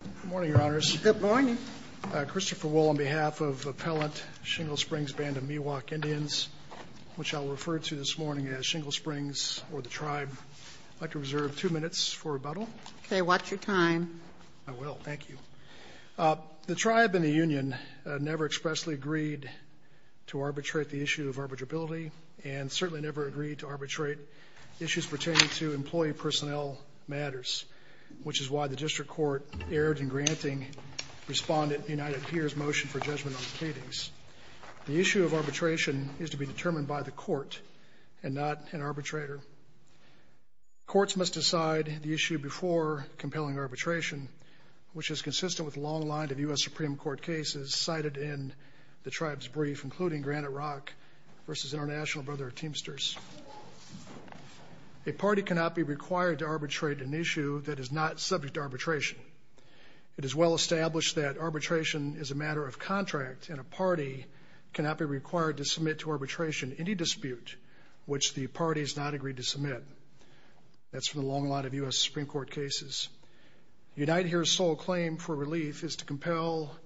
Good morning, Your Honors. Good morning. Christopher Wohl on behalf of Appellant Shingle Springs Band of Miwok Indians, which I'll refer to this morning as Shingle Springs or the Tribe. I'd like to reserve two minutes for rebuttal. Okay, watch your time. I will. Thank you. The Tribe and the Union never expressly agreed to arbitrate the issue of arbitrability and certainly never agreed to arbitrate issues pertaining to employee personnel matters, which is why the District Court erred in granting Respondent United HERE's motion for judgment on the cleavings. The issue of arbitration is to be determined by the court and not an arbitrator. Courts must decide the issue before compelling arbitration, which is consistent with long lines of U.S. Supreme Court cases cited in the Tribe's brief, including Granite Rock v. International Brother of Teamsters. A party cannot be required to arbitrate an issue that is not subject to arbitration. It is well established that arbitration is a matter of contract and a party cannot be required to submit to arbitration any dispute which the party has not agreed to submit. That's from the long line of U.S. Supreme Court cases. United HERE's sole claim for relief is to compel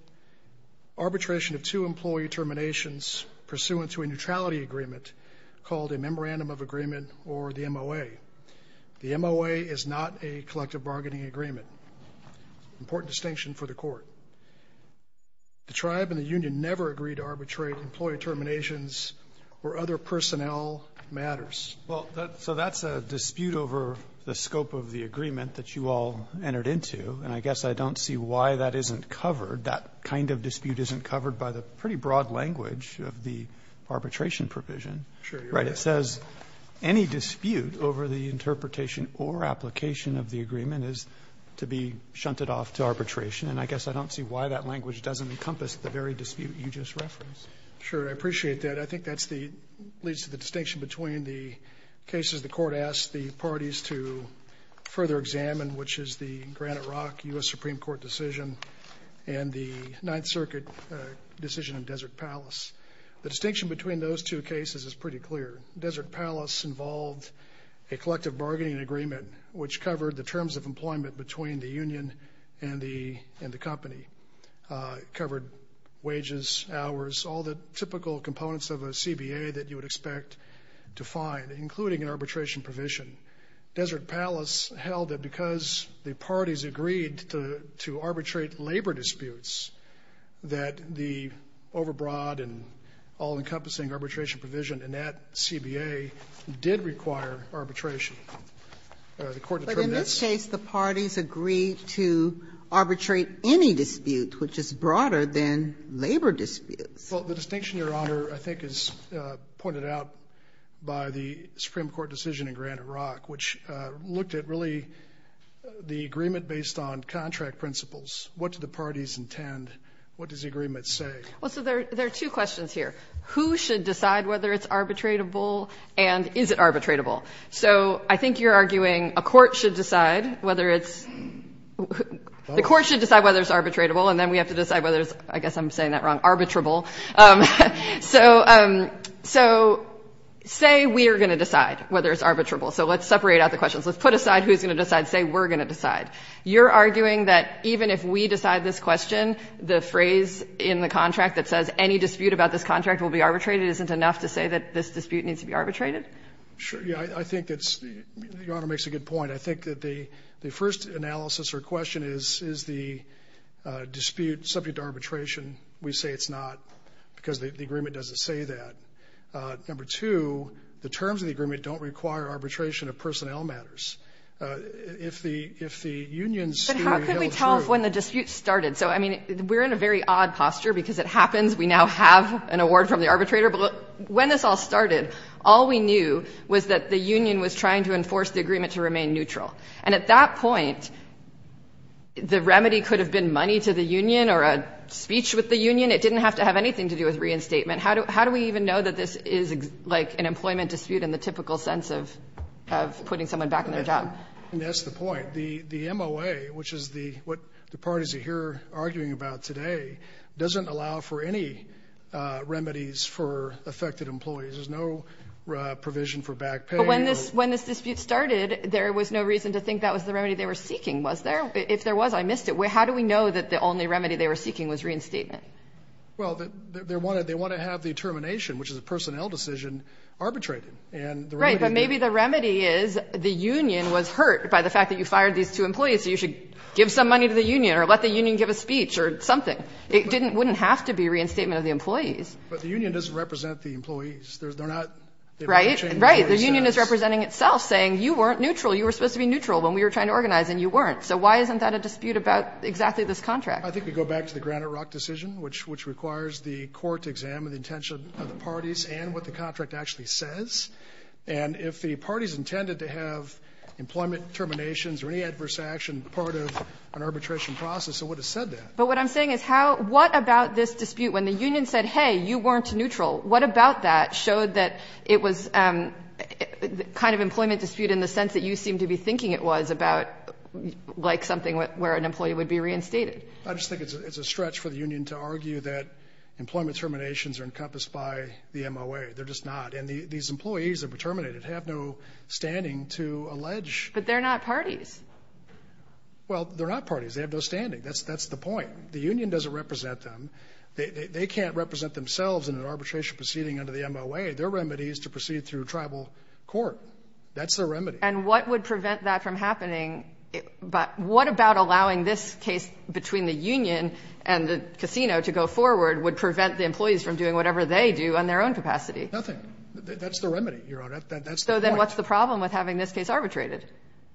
arbitration of two employee terminations pursuant to a neutrality agreement called a Memorandum of Agreement or the MOA. The MOA is not a collective bargaining agreement. Important distinction for the Court. The Tribe and the union never agreed to arbitrate employee terminations where other personnel matters. Roberts. Well, so that's a dispute over the scope of the agreement that you all entered into, and I guess I don't see why that isn't covered. That kind of dispute isn't covered by the pretty broad language of the arbitration provision. Right. It says any dispute over the interpretation or application of the agreement is to be shunted off to arbitration, and I guess I don't see why that language doesn't encompass the very dispute you just referenced. Sure. I appreciate that. I think that's the leads to the distinction between the cases the Court asked the parties to further examine, which is the Granite Rock U.S. Supreme Court decision and the Ninth Circuit decision in Desert Palace. The distinction between those two cases is pretty clear. Desert Palace involved a collective bargaining agreement which covered the terms of employment between the union and the company. It covered wages, hours, all the typical components of a CBA that you would expect to find, including an arbitration provision. Desert Palace held that because the parties agreed to arbitrate labor disputes that the overbroad and all-encompassing arbitration provision in that CBA did require arbitration. The Court determined that. But in this case, the parties agreed to arbitrate any dispute which is broader than labor disputes. Well, the distinction, Your Honor, I think is pointed out by the Supreme Court decision in Granite Rock, which looked at really the agreement based on contract principles. What do the parties intend? What does the agreement say? Well, so there are two questions here. Who should decide whether it's arbitratable and is it arbitratable? So I think you're arguing a court should decide whether it's the court should decide whether it's arbitratable, and then we have to decide whether it's, I guess I'm saying that wrong, arbitrable. So say we are going to decide whether it's arbitrable. So let's separate out the questions. Let's put aside who's going to decide. Say we're going to decide. You're arguing that even if we decide this question, the phrase in the contract that says any dispute about this contract will be arbitrated isn't enough to say that this dispute needs to be arbitrated? Sure. Yeah, I think that's the Honor makes a good point. I think that the first analysis or question is, is the dispute subject to arbitration and we say it's not because the agreement doesn't say that. Number two, the terms of the agreement don't require arbitration of personnel matters. If the union is to be held true. But how can we tell when the dispute started? So, I mean, we're in a very odd posture because it happens we now have an award from the arbitrator. But when this all started, all we knew was that the union was trying to enforce the agreement to remain neutral. And at that point, the remedy could have been money to the union or a speech with the union. It didn't have to have anything to do with reinstatement. How do we even know that this is like an employment dispute in the typical sense of putting someone back in their job? That's the point. The MOA, which is what the parties are here arguing about today, doesn't allow for any remedies for affected employees. There's no provision for back pay. But when this dispute started, there was no reason to think that was the remedy they were seeking, was there? If there was, I missed it. How do we know that the only remedy they were seeking was reinstatement? Well, they want to have the termination, which is a personnel decision, arbitrated. Right. But maybe the remedy is the union was hurt by the fact that you fired these two employees, so you should give some money to the union or let the union give a speech or something. It wouldn't have to be reinstatement of the employees. But the union doesn't represent the employees. They're not changing their status. Right. The union is representing itself, saying you weren't neutral. You were supposed to be neutral when we were trying to organize, and you weren't. So why isn't that a dispute about exactly this contract? I think we go back to the Granite Rock decision, which requires the court to examine the intention of the parties and what the contract actually says. And if the parties intended to have employment terminations or any adverse action part of an arbitration process, it would have said that. But what I'm saying is how – what about this dispute? When the union said, hey, you weren't neutral, what about that showed that it was kind of employment dispute in the sense that you seemed to be thinking it was about like something where an employee would be reinstated? I just think it's a stretch for the union to argue that employment terminations are encompassed by the MOA. They're just not. And these employees that were terminated have no standing to allege. But they're not parties. Well, they're not parties. They have no standing. That's the point. The union doesn't represent them. They can't represent themselves in an arbitration proceeding under the MOA. Their remedy is to proceed through tribal court. That's their remedy. And what would prevent that from happening? What about allowing this case between the union and the casino to go forward would prevent the employees from doing whatever they do on their own capacity? Nothing. That's the remedy, Your Honor. That's the point. So then what's the problem with having this case arbitrated?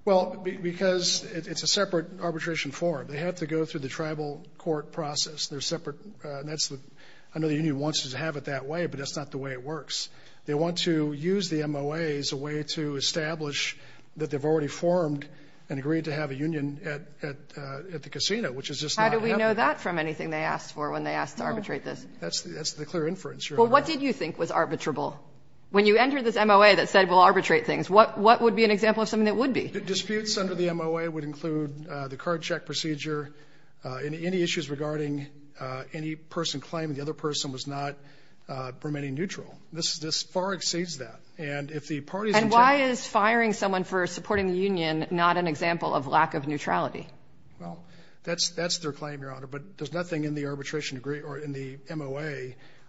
Well, because it's a separate arbitration form. They have to go through the tribal court process. They're separate. I know the union wants to have it that way, but that's not the way it works. They want to use the MOA as a way to establish that they've already formed and agreed to have a union at the casino, which is just not happening. How do we know that from anything they asked for when they asked to arbitrate this? That's the clear inference, Your Honor. Well, what did you think was arbitrable? When you entered this MOA that said we'll arbitrate things, what would be an example of something that would be? Disputes under the MOA would include the card check procedure, any issues regarding any person claiming the other person was not remaining neutral. This far exceeds that. And if the parties in charge. And why is firing someone for supporting the union not an example of lack of neutrality? Well, that's their claim, Your Honor, but there's nothing in the arbitration degree or in the MOA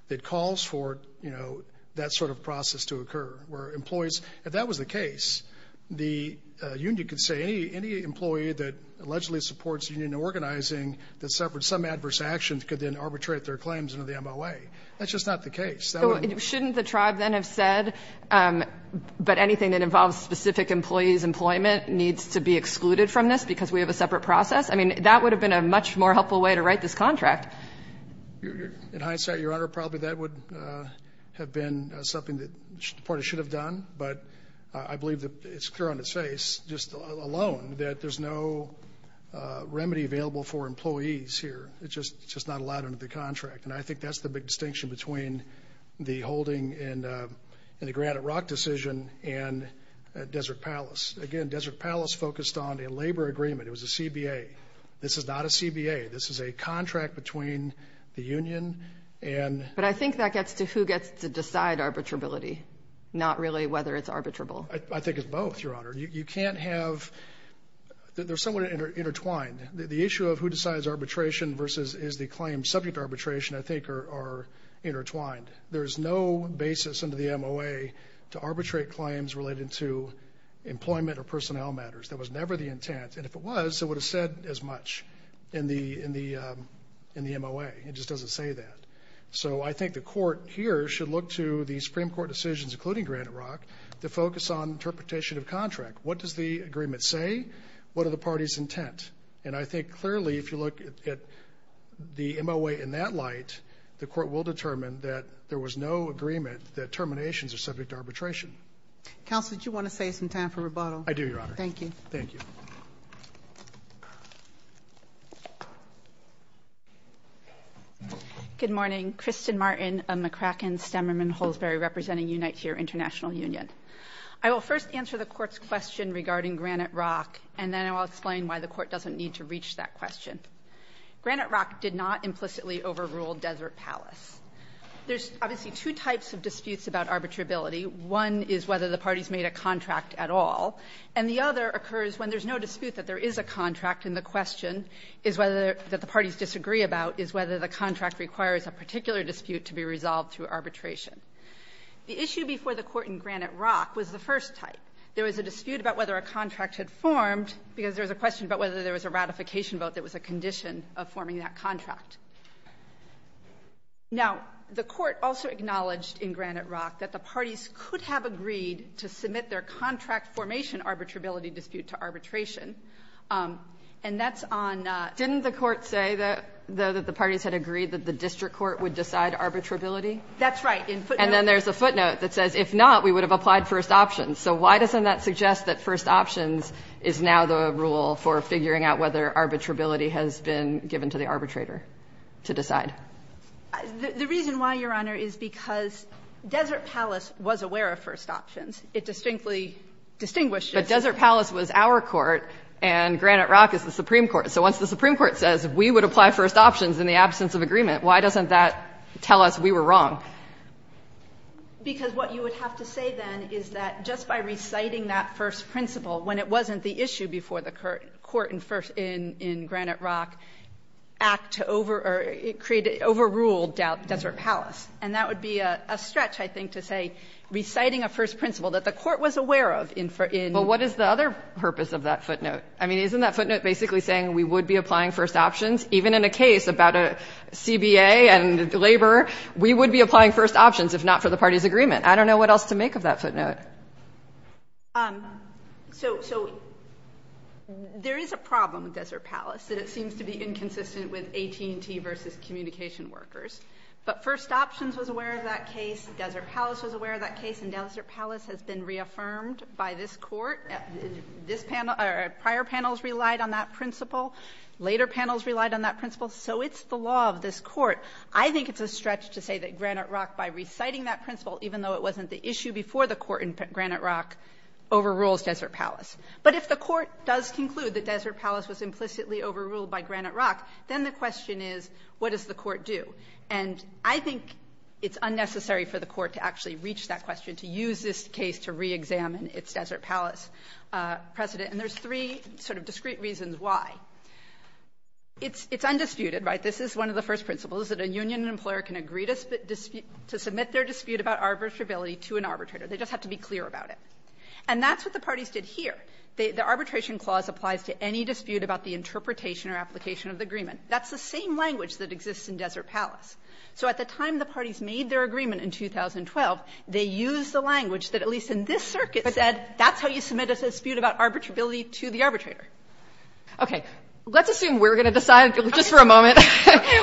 that calls for, you know, that sort of process to occur where employees, if that was the case, the union could say any employee that allegedly supports union organizing that suffered some adverse actions could then arbitrate their claims under the MOA. That's just not the case. So shouldn't the tribe then have said, but anything that involves specific employees' employment needs to be excluded from this because we have a separate process? I mean, that would have been a much more helpful way to write this contract. In hindsight, Your Honor, probably that would have been something that the party should have done, but I believe that it's clear on its face, just alone, that there's no remedy available for employees here. It's just not allowed under the contract. And I think that's the big distinction between the holding in the Granite Rock decision and Desert Palace. Again, Desert Palace focused on a labor agreement. It was a CBA. This is not a CBA. This is a contract between the union and... But I think that gets to who gets to decide arbitrability, not really whether it's arbitrable. I think it's both, Your Honor. You can't have... They're somewhat intertwined. The issue of who decides arbitration versus is the claim subject to arbitration, I think, are intertwined. There is no basis under the MOA to arbitrate claims related to employment or personnel matters. That was never the intent. And if it was, it would have said as much in the MOA. It just doesn't say that. So I think the court here should look to the Supreme Court decisions, including Granite Rock, to focus on interpretation of contract. What does the agreement say? What are the parties' intent? And I think, clearly, if you look at the MOA in that light, the court will determine that there was no agreement that terminations are subject to arbitration. Counsel, did you want to save some time for rebuttal? I do, Your Honor. Thank you. Thank you. Good morning. Kristin Martin of McCracken Stemmerman-Holsberry representing Unite Here International Union. I will first answer the Court's question regarding Granite Rock, and then I'll explain why the Court doesn't need to reach that question. Granite Rock did not implicitly overrule Desert Palace. There's obviously two types of disputes about arbitrability. One is whether the parties made a contract at all. And the other occurs when there's no dispute that there is a contract, and the question is whether the parties disagree about is whether the contract requires a particular dispute to be resolved through arbitration. The issue before the Court in Granite Rock was the first type. There was a dispute about whether a contract had formed because there was a question about whether there was a ratification vote that was a condition of forming that contract. Now, the Court also acknowledged in Granite Rock that the parties could have agreed to submit their contract formation arbitrability dispute to arbitration. And that's on the first option. Kagan, didn't the Court say that the parties had agreed that the District Court would decide arbitrability? That's right. And then there's a footnote that says, if not, we would have applied first option. So why doesn't that suggest that first options is now the rule for figuring out whether arbitrability has been given to the arbitrator to decide? The reason why, Your Honor, is because Desert Palace was aware of first options. It distinctly distinguished it. But Desert Palace was our court, and Granite Rock is the Supreme Court. So once the Supreme Court says we would apply first options in the absence of agreement, why doesn't that tell us we were wrong? Because what you would have to say then is that just by reciting that first principle, when it wasn't the issue before the court in Granite Rock, act to over or create an overruled Desert Palace. And that would be a stretch, I think, to say reciting a first principle that the court was aware of in the first instance. But what is the other purpose of that footnote? I mean, isn't that footnote basically saying we would be applying first options? Even in a case about a CBA and labor, we would be applying first options if not for the parties' agreement. I don't know what else to make of that footnote. So there is a problem with Desert Palace, that it seems to be inconsistent with AT&T v. Communication Workers. But first options was aware of that case. Desert Palace was aware of that case. And Desert Palace has been reaffirmed by this Court. This panel or prior panels relied on that principle. Later panels relied on that principle. So it's the law of this Court. I think it's a stretch to say that Granite Rock, by reciting that principle, even though it wasn't the issue before the court in Granite Rock, overrules Desert Palace. But if the Court does conclude that Desert Palace was implicitly overruled by Granite Rock, then the question is, what does the Court do? And I think it's unnecessary for the Court to actually reach that question, to use this case to reexamine its Desert Palace precedent. And there's three sort of discrete reasons why. It's undisputed, right? This is one of the first principles, is that a union employer can agree to submit their dispute about arbitrability to an arbitrator. They just have to be clear about it. And that's what the parties did here. The arbitration clause applies to any dispute about the interpretation or application of the agreement. That's the same language that exists in Desert Palace. So at the time the parties made their agreement in 2012, they used the language that at least in this circuit said that's how you submit a dispute about arbitrability to the arbitrator. Okay. Let's assume we're going to decide, just for a moment,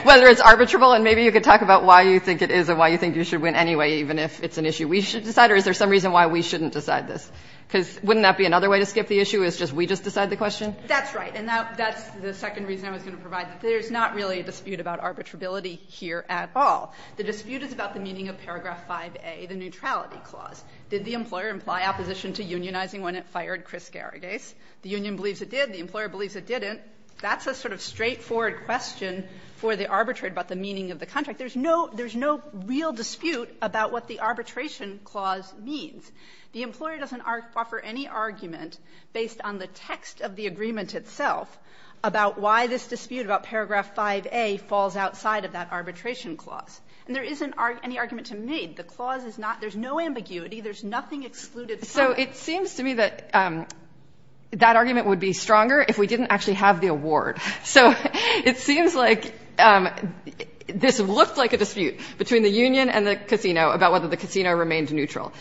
whether it's arbitrable and maybe you could talk about why you think it is and why you think you should win anyway, even if it's an issue we should decide, or is there some reason why we shouldn't decide this? Because wouldn't that be another way to skip the issue, is just we just decide the question? That's right. And that's the second reason I was going to provide. There's not really a dispute about arbitrability here at all. The dispute is about the meaning of paragraph 5A, the neutrality clause. Did the employer imply opposition to unionizing when it fired Chris Garagase? The union believes it did. The employer believes it didn't. That's a sort of straightforward question for the arbitrator about the meaning of the contract. There's no real dispute about what the arbitration clause means. The employer doesn't offer any argument based on the text of the agreement itself about why this dispute about paragraph 5A falls outside of that arbitration clause. And there isn't any argument to make. The clause is not, there's no ambiguity, there's nothing excluded from it. So it seems to me that that argument would be stronger if we didn't actually have the award. So it seems like this looked like a dispute between the union and the casino about whether the casino remained neutral.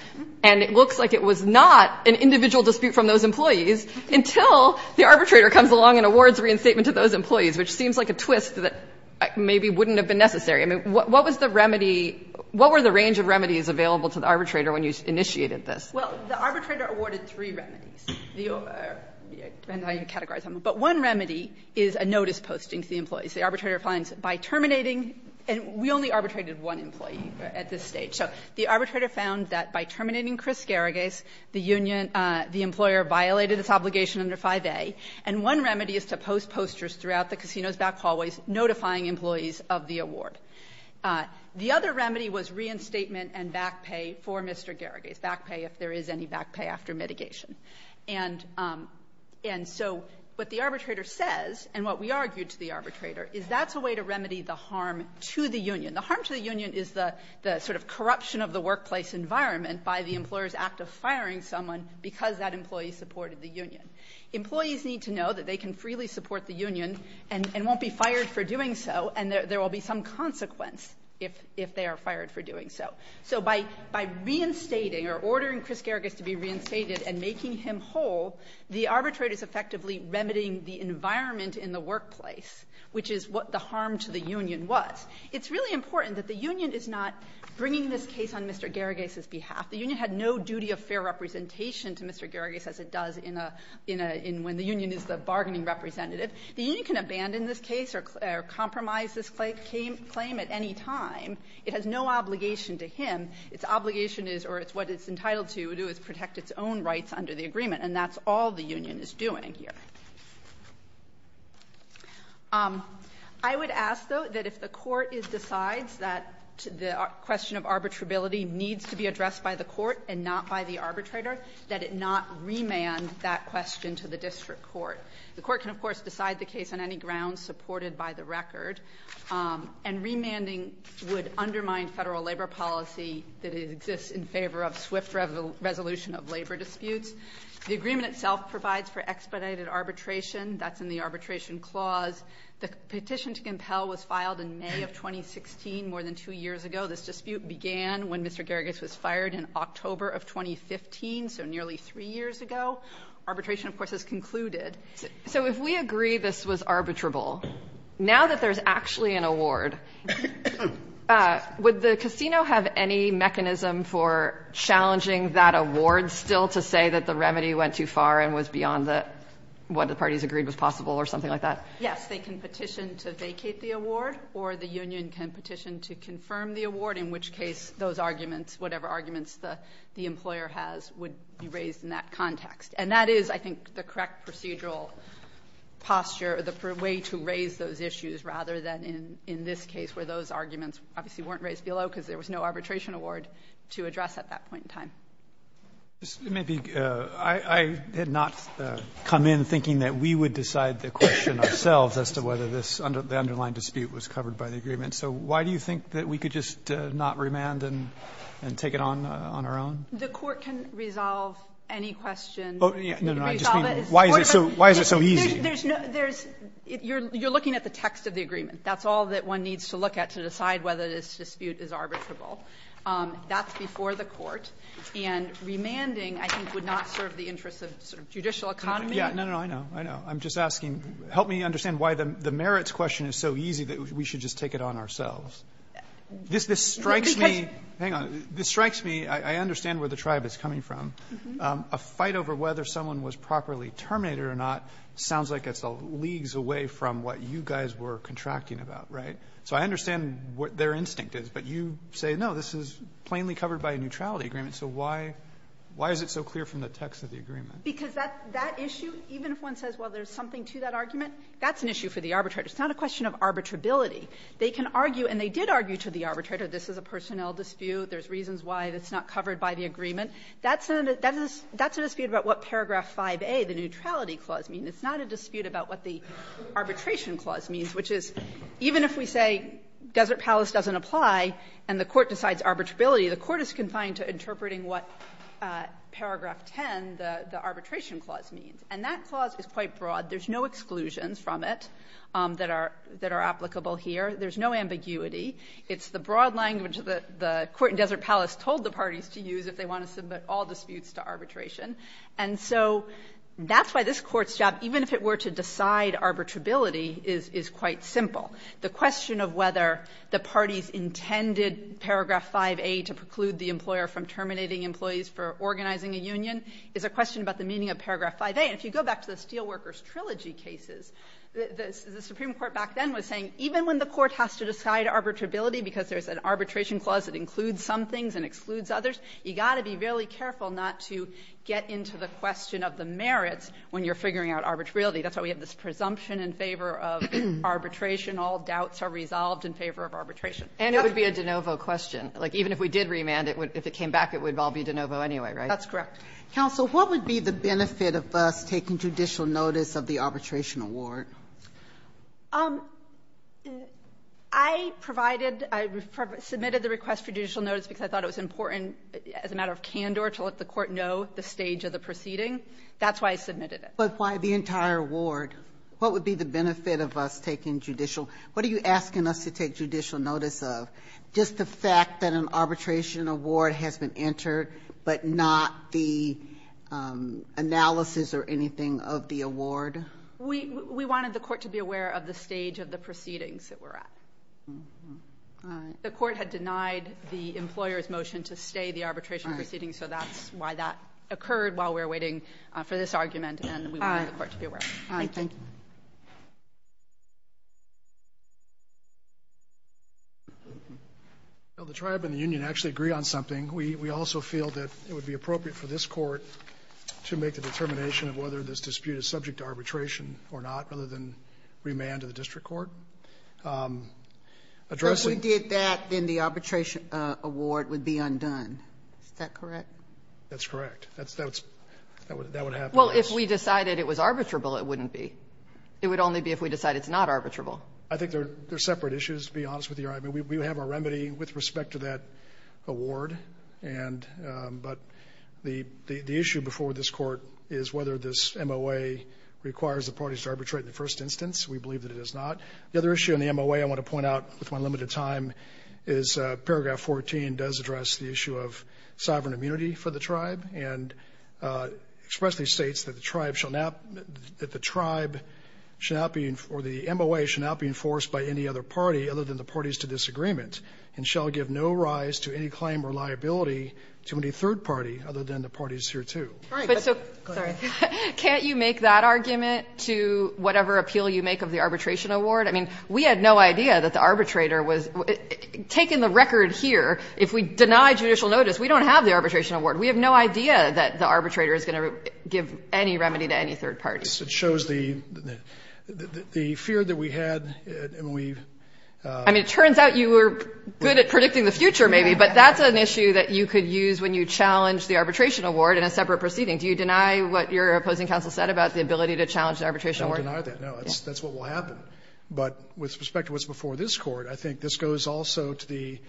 And it looks like it was not an individual dispute from those employees until the arbitrator comes along and awards reinstatement to those employees, which seems like a twist that maybe wouldn't have been necessary. I mean, what was the remedy, what were the range of remedies available to the arbitrator when you initiated this? Well, the arbitrator awarded three remedies, depending on how you categorize them. But one remedy is a notice posting to the employees. The arbitrator finds by terminating, and we only arbitrated one employee at this stage, so the arbitrator found that by terminating Chris Garragas, the union, the employer violated its obligation under 5A. And one remedy is to post posters throughout the casino's back hallways notifying employees of the award. The other remedy was reinstatement and back pay for Mr. Garragas, back pay if there is any back pay after mitigation. And so what the arbitrator says, and what we argued to the arbitrator, is that's a way to remedy the harm to the union. The harm to the union is the sort of corruption of the workplace environment by the employer's act of firing someone because that employee supported the union. Employees need to know that they can freely support the union and won't be fired for doing so, and there will be some consequence if they are fired for doing so. So by reinstating or ordering Chris Garragas to be reinstated and making him whole, the arbitrator is effectively remedying the environment in the workplace, which is what the harm to the union was. It's really important that the union is not bringing this case on Mr. Garragas' behalf. The union had no duty of fair representation to Mr. Garragas as it does in a – in a – in when the union is the bargaining representative. The union can abandon this case or compromise this claim at any time. It has no obligation to him. Its obligation is, or what it's entitled to do is protect its own rights under the agreement, and that's all the union is doing here. I would ask, though, that if the court decides that the question of arbitrability needs to be addressed by the court and not by the arbitrator, that it not remand that question to the district court. The court can, of course, decide the case on any grounds supported by the record, and remanding would undermine federal labor policy that exists in favor of swift resolution of labor disputes. The agreement itself provides for expedited arbitration. That's in the Arbitration Clause. The petition to compel was filed in May of 2016, more than two years ago. This dispute began when Mr. Garragas was fired in October of 2015, so nearly three years ago. Arbitration, of course, has concluded. So if we agree this was arbitrable, now that there's actually an award, would the remedy went too far and was beyond what the parties agreed was possible or something like that? Yes, they can petition to vacate the award, or the union can petition to confirm the award, in which case those arguments, whatever arguments the employer has, would be raised in that context. And that is, I think, the correct procedural posture, the way to raise those issues rather than in this case where those arguments obviously weren't raised below because there was no arbitration award to address at that point in time. It may be I had not come in thinking that we would decide the question ourselves as to whether this underlying dispute was covered by the agreement. So why do you think that we could just not remand and take it on our own? The Court can resolve any question. No, no. Why is it so easy? There's no you're looking at the text of the agreement. That's all that one needs to look at to decide whether this dispute is arbitrable. That's before the Court. And remanding, I think, would not serve the interests of judicial economy. No, no. I know. I know. I'm just asking. Help me understand why the merits question is so easy that we should just take it on ourselves. This strikes me. Hang on. This strikes me. I understand where the tribe is coming from. A fight over whether someone was properly terminated or not sounds like it's leagues away from what you guys were contracting about, right? So I understand what their instinct is. But you say, no, this is plainly covered by a neutrality agreement. So why is it so clear from the text of the agreement? Because that issue, even if one says, well, there's something to that argument, that's an issue for the arbitrator. It's not a question of arbitrability. They can argue, and they did argue to the arbitrator, this is a personnel dispute. There's reasons why it's not covered by the agreement. That's a dispute about what paragraph 5a, the neutrality clause, means. It's not a dispute about what the arbitration clause means, which is even if we say Desert Palace doesn't apply and the court decides arbitrability, the court is confined to interpreting what paragraph 10, the arbitration clause, means. And that clause is quite broad. There's no exclusions from it that are applicable here. There's no ambiguity. It's the broad language that the court in Desert Palace told the parties to use if they want to submit all disputes to arbitration. And so that's why this Court's job, even if it were to decide arbitrability, is quite simple. The question of whether the parties intended paragraph 5a to preclude the employer from terminating employees for organizing a union is a question about the meaning of paragraph 5a. And if you go back to the Steelworkers Trilogy cases, the Supreme Court back then was saying even when the court has to decide arbitrability because there's an arbitration clause that includes some things and excludes others, you've got to be really careful not to get into the question of the merits when you're figuring out arbitrability. That's why we have this presumption in favor of arbitration. All doubts are resolved in favor of arbitration. Ginsburg. And it would be a de novo question. Like, even if we did remand it, if it came back, it would all be de novo anyway, right? That's correct. Counsel, what would be the benefit of us taking judicial notice of the arbitration award? I provided, I submitted the request for judicial notice because I thought it was important as a matter of candor to let the Court know the stage of the proceeding. That's why I submitted it. But why the entire award? What would be the benefit of us taking judicial? What are you asking us to take judicial notice of? Just the fact that an arbitration award has been entered, but not the analysis or anything of the award? We wanted the Court to be aware of the stage of the proceedings that we're at. All right. The Court had denied the employer's motion to stay the arbitration proceedings, so that's why that occurred while we were waiting for this argument, and we wanted the Court to be aware of it. All right. Thank you. Well, the Tribe and the union actually agree on something. We also feel that it would be appropriate for this Court to make the determination of whether this dispute is subject to arbitration or not, rather than remand to the district court. Addressing the question. If we did that, then the arbitration award would be undone. Is that correct? That's correct. That would happen. Well, if we decided it was arbitrable, it wouldn't be. It would only be if we decided it's not arbitrable. I think there are separate issues, to be honest with you. I mean, we have our remedy with respect to that award. But the issue before this Court is whether this MOA requires the parties to arbitrate in the first instance. We believe that it does not. The other issue in the MOA I want to point out with my limited time is paragraph 14 does address the issue of sovereign immunity for the Tribe, and expressly states that the Tribe shall not, that the Tribe shall not be, or the MOA shall not be enforced by any other party other than the parties to this agreement, and shall give no rise to any claim or liability to any third party other than the parties hereto. Sorry. Can't you make that argument to whatever appeal you make of the arbitration award? I mean, we had no idea that the arbitrator was taking the record here. If we deny judicial notice, we don't have the arbitration award. We have no idea that the arbitrator is going to give any remedy to any third party. It shows the fear that we had and we've ---- I mean, it turns out you were good at predicting the future maybe, but that's an issue that you could use when you challenge the arbitration award in a separate proceeding. Do you deny what your opposing counsel said about the ability to challenge the arbitration award? I don't deny that, no. That's what will happen. But with respect to what's before this Court, I think this goes also to the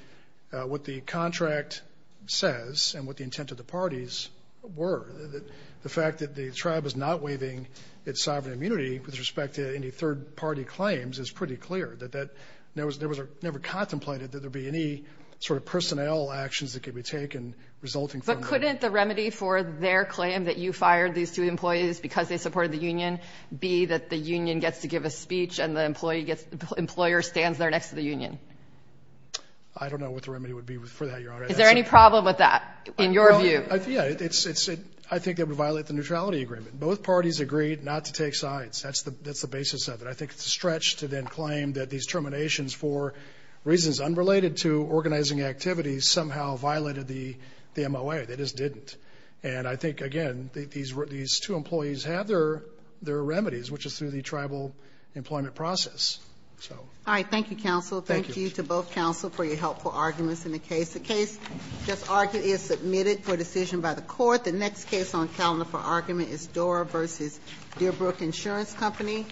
---- what the contract says and what the intent of the parties were. The fact that the tribe is not waiving its sovereign immunity with respect to any third party claims is pretty clear, that there was never contemplated that there would be any sort of personnel actions that could be taken resulting from the ---- But couldn't the remedy for their claim that you fired these two employees because they supported the union be that the union gets to give a speech and the employer stands there next to the union? I don't know what the remedy would be for that, Your Honor. Is there any problem with that in your view? Yeah. I think it would violate the neutrality agreement. Both parties agreed not to take sides. That's the basis of it. I think it's a stretch to then claim that these terminations for reasons unrelated to organizing activities somehow violated the MOA. They just didn't. And I think, again, these two employees have their remedies, which is through the tribal employment process. All right. Thank you, counsel. Thank you. Thank you to both counsel for your helpful arguments in the case. The case just argued is submitted for decision by the court. The next case on calendar for argument is Dora v. Dearbrook Insurance Company.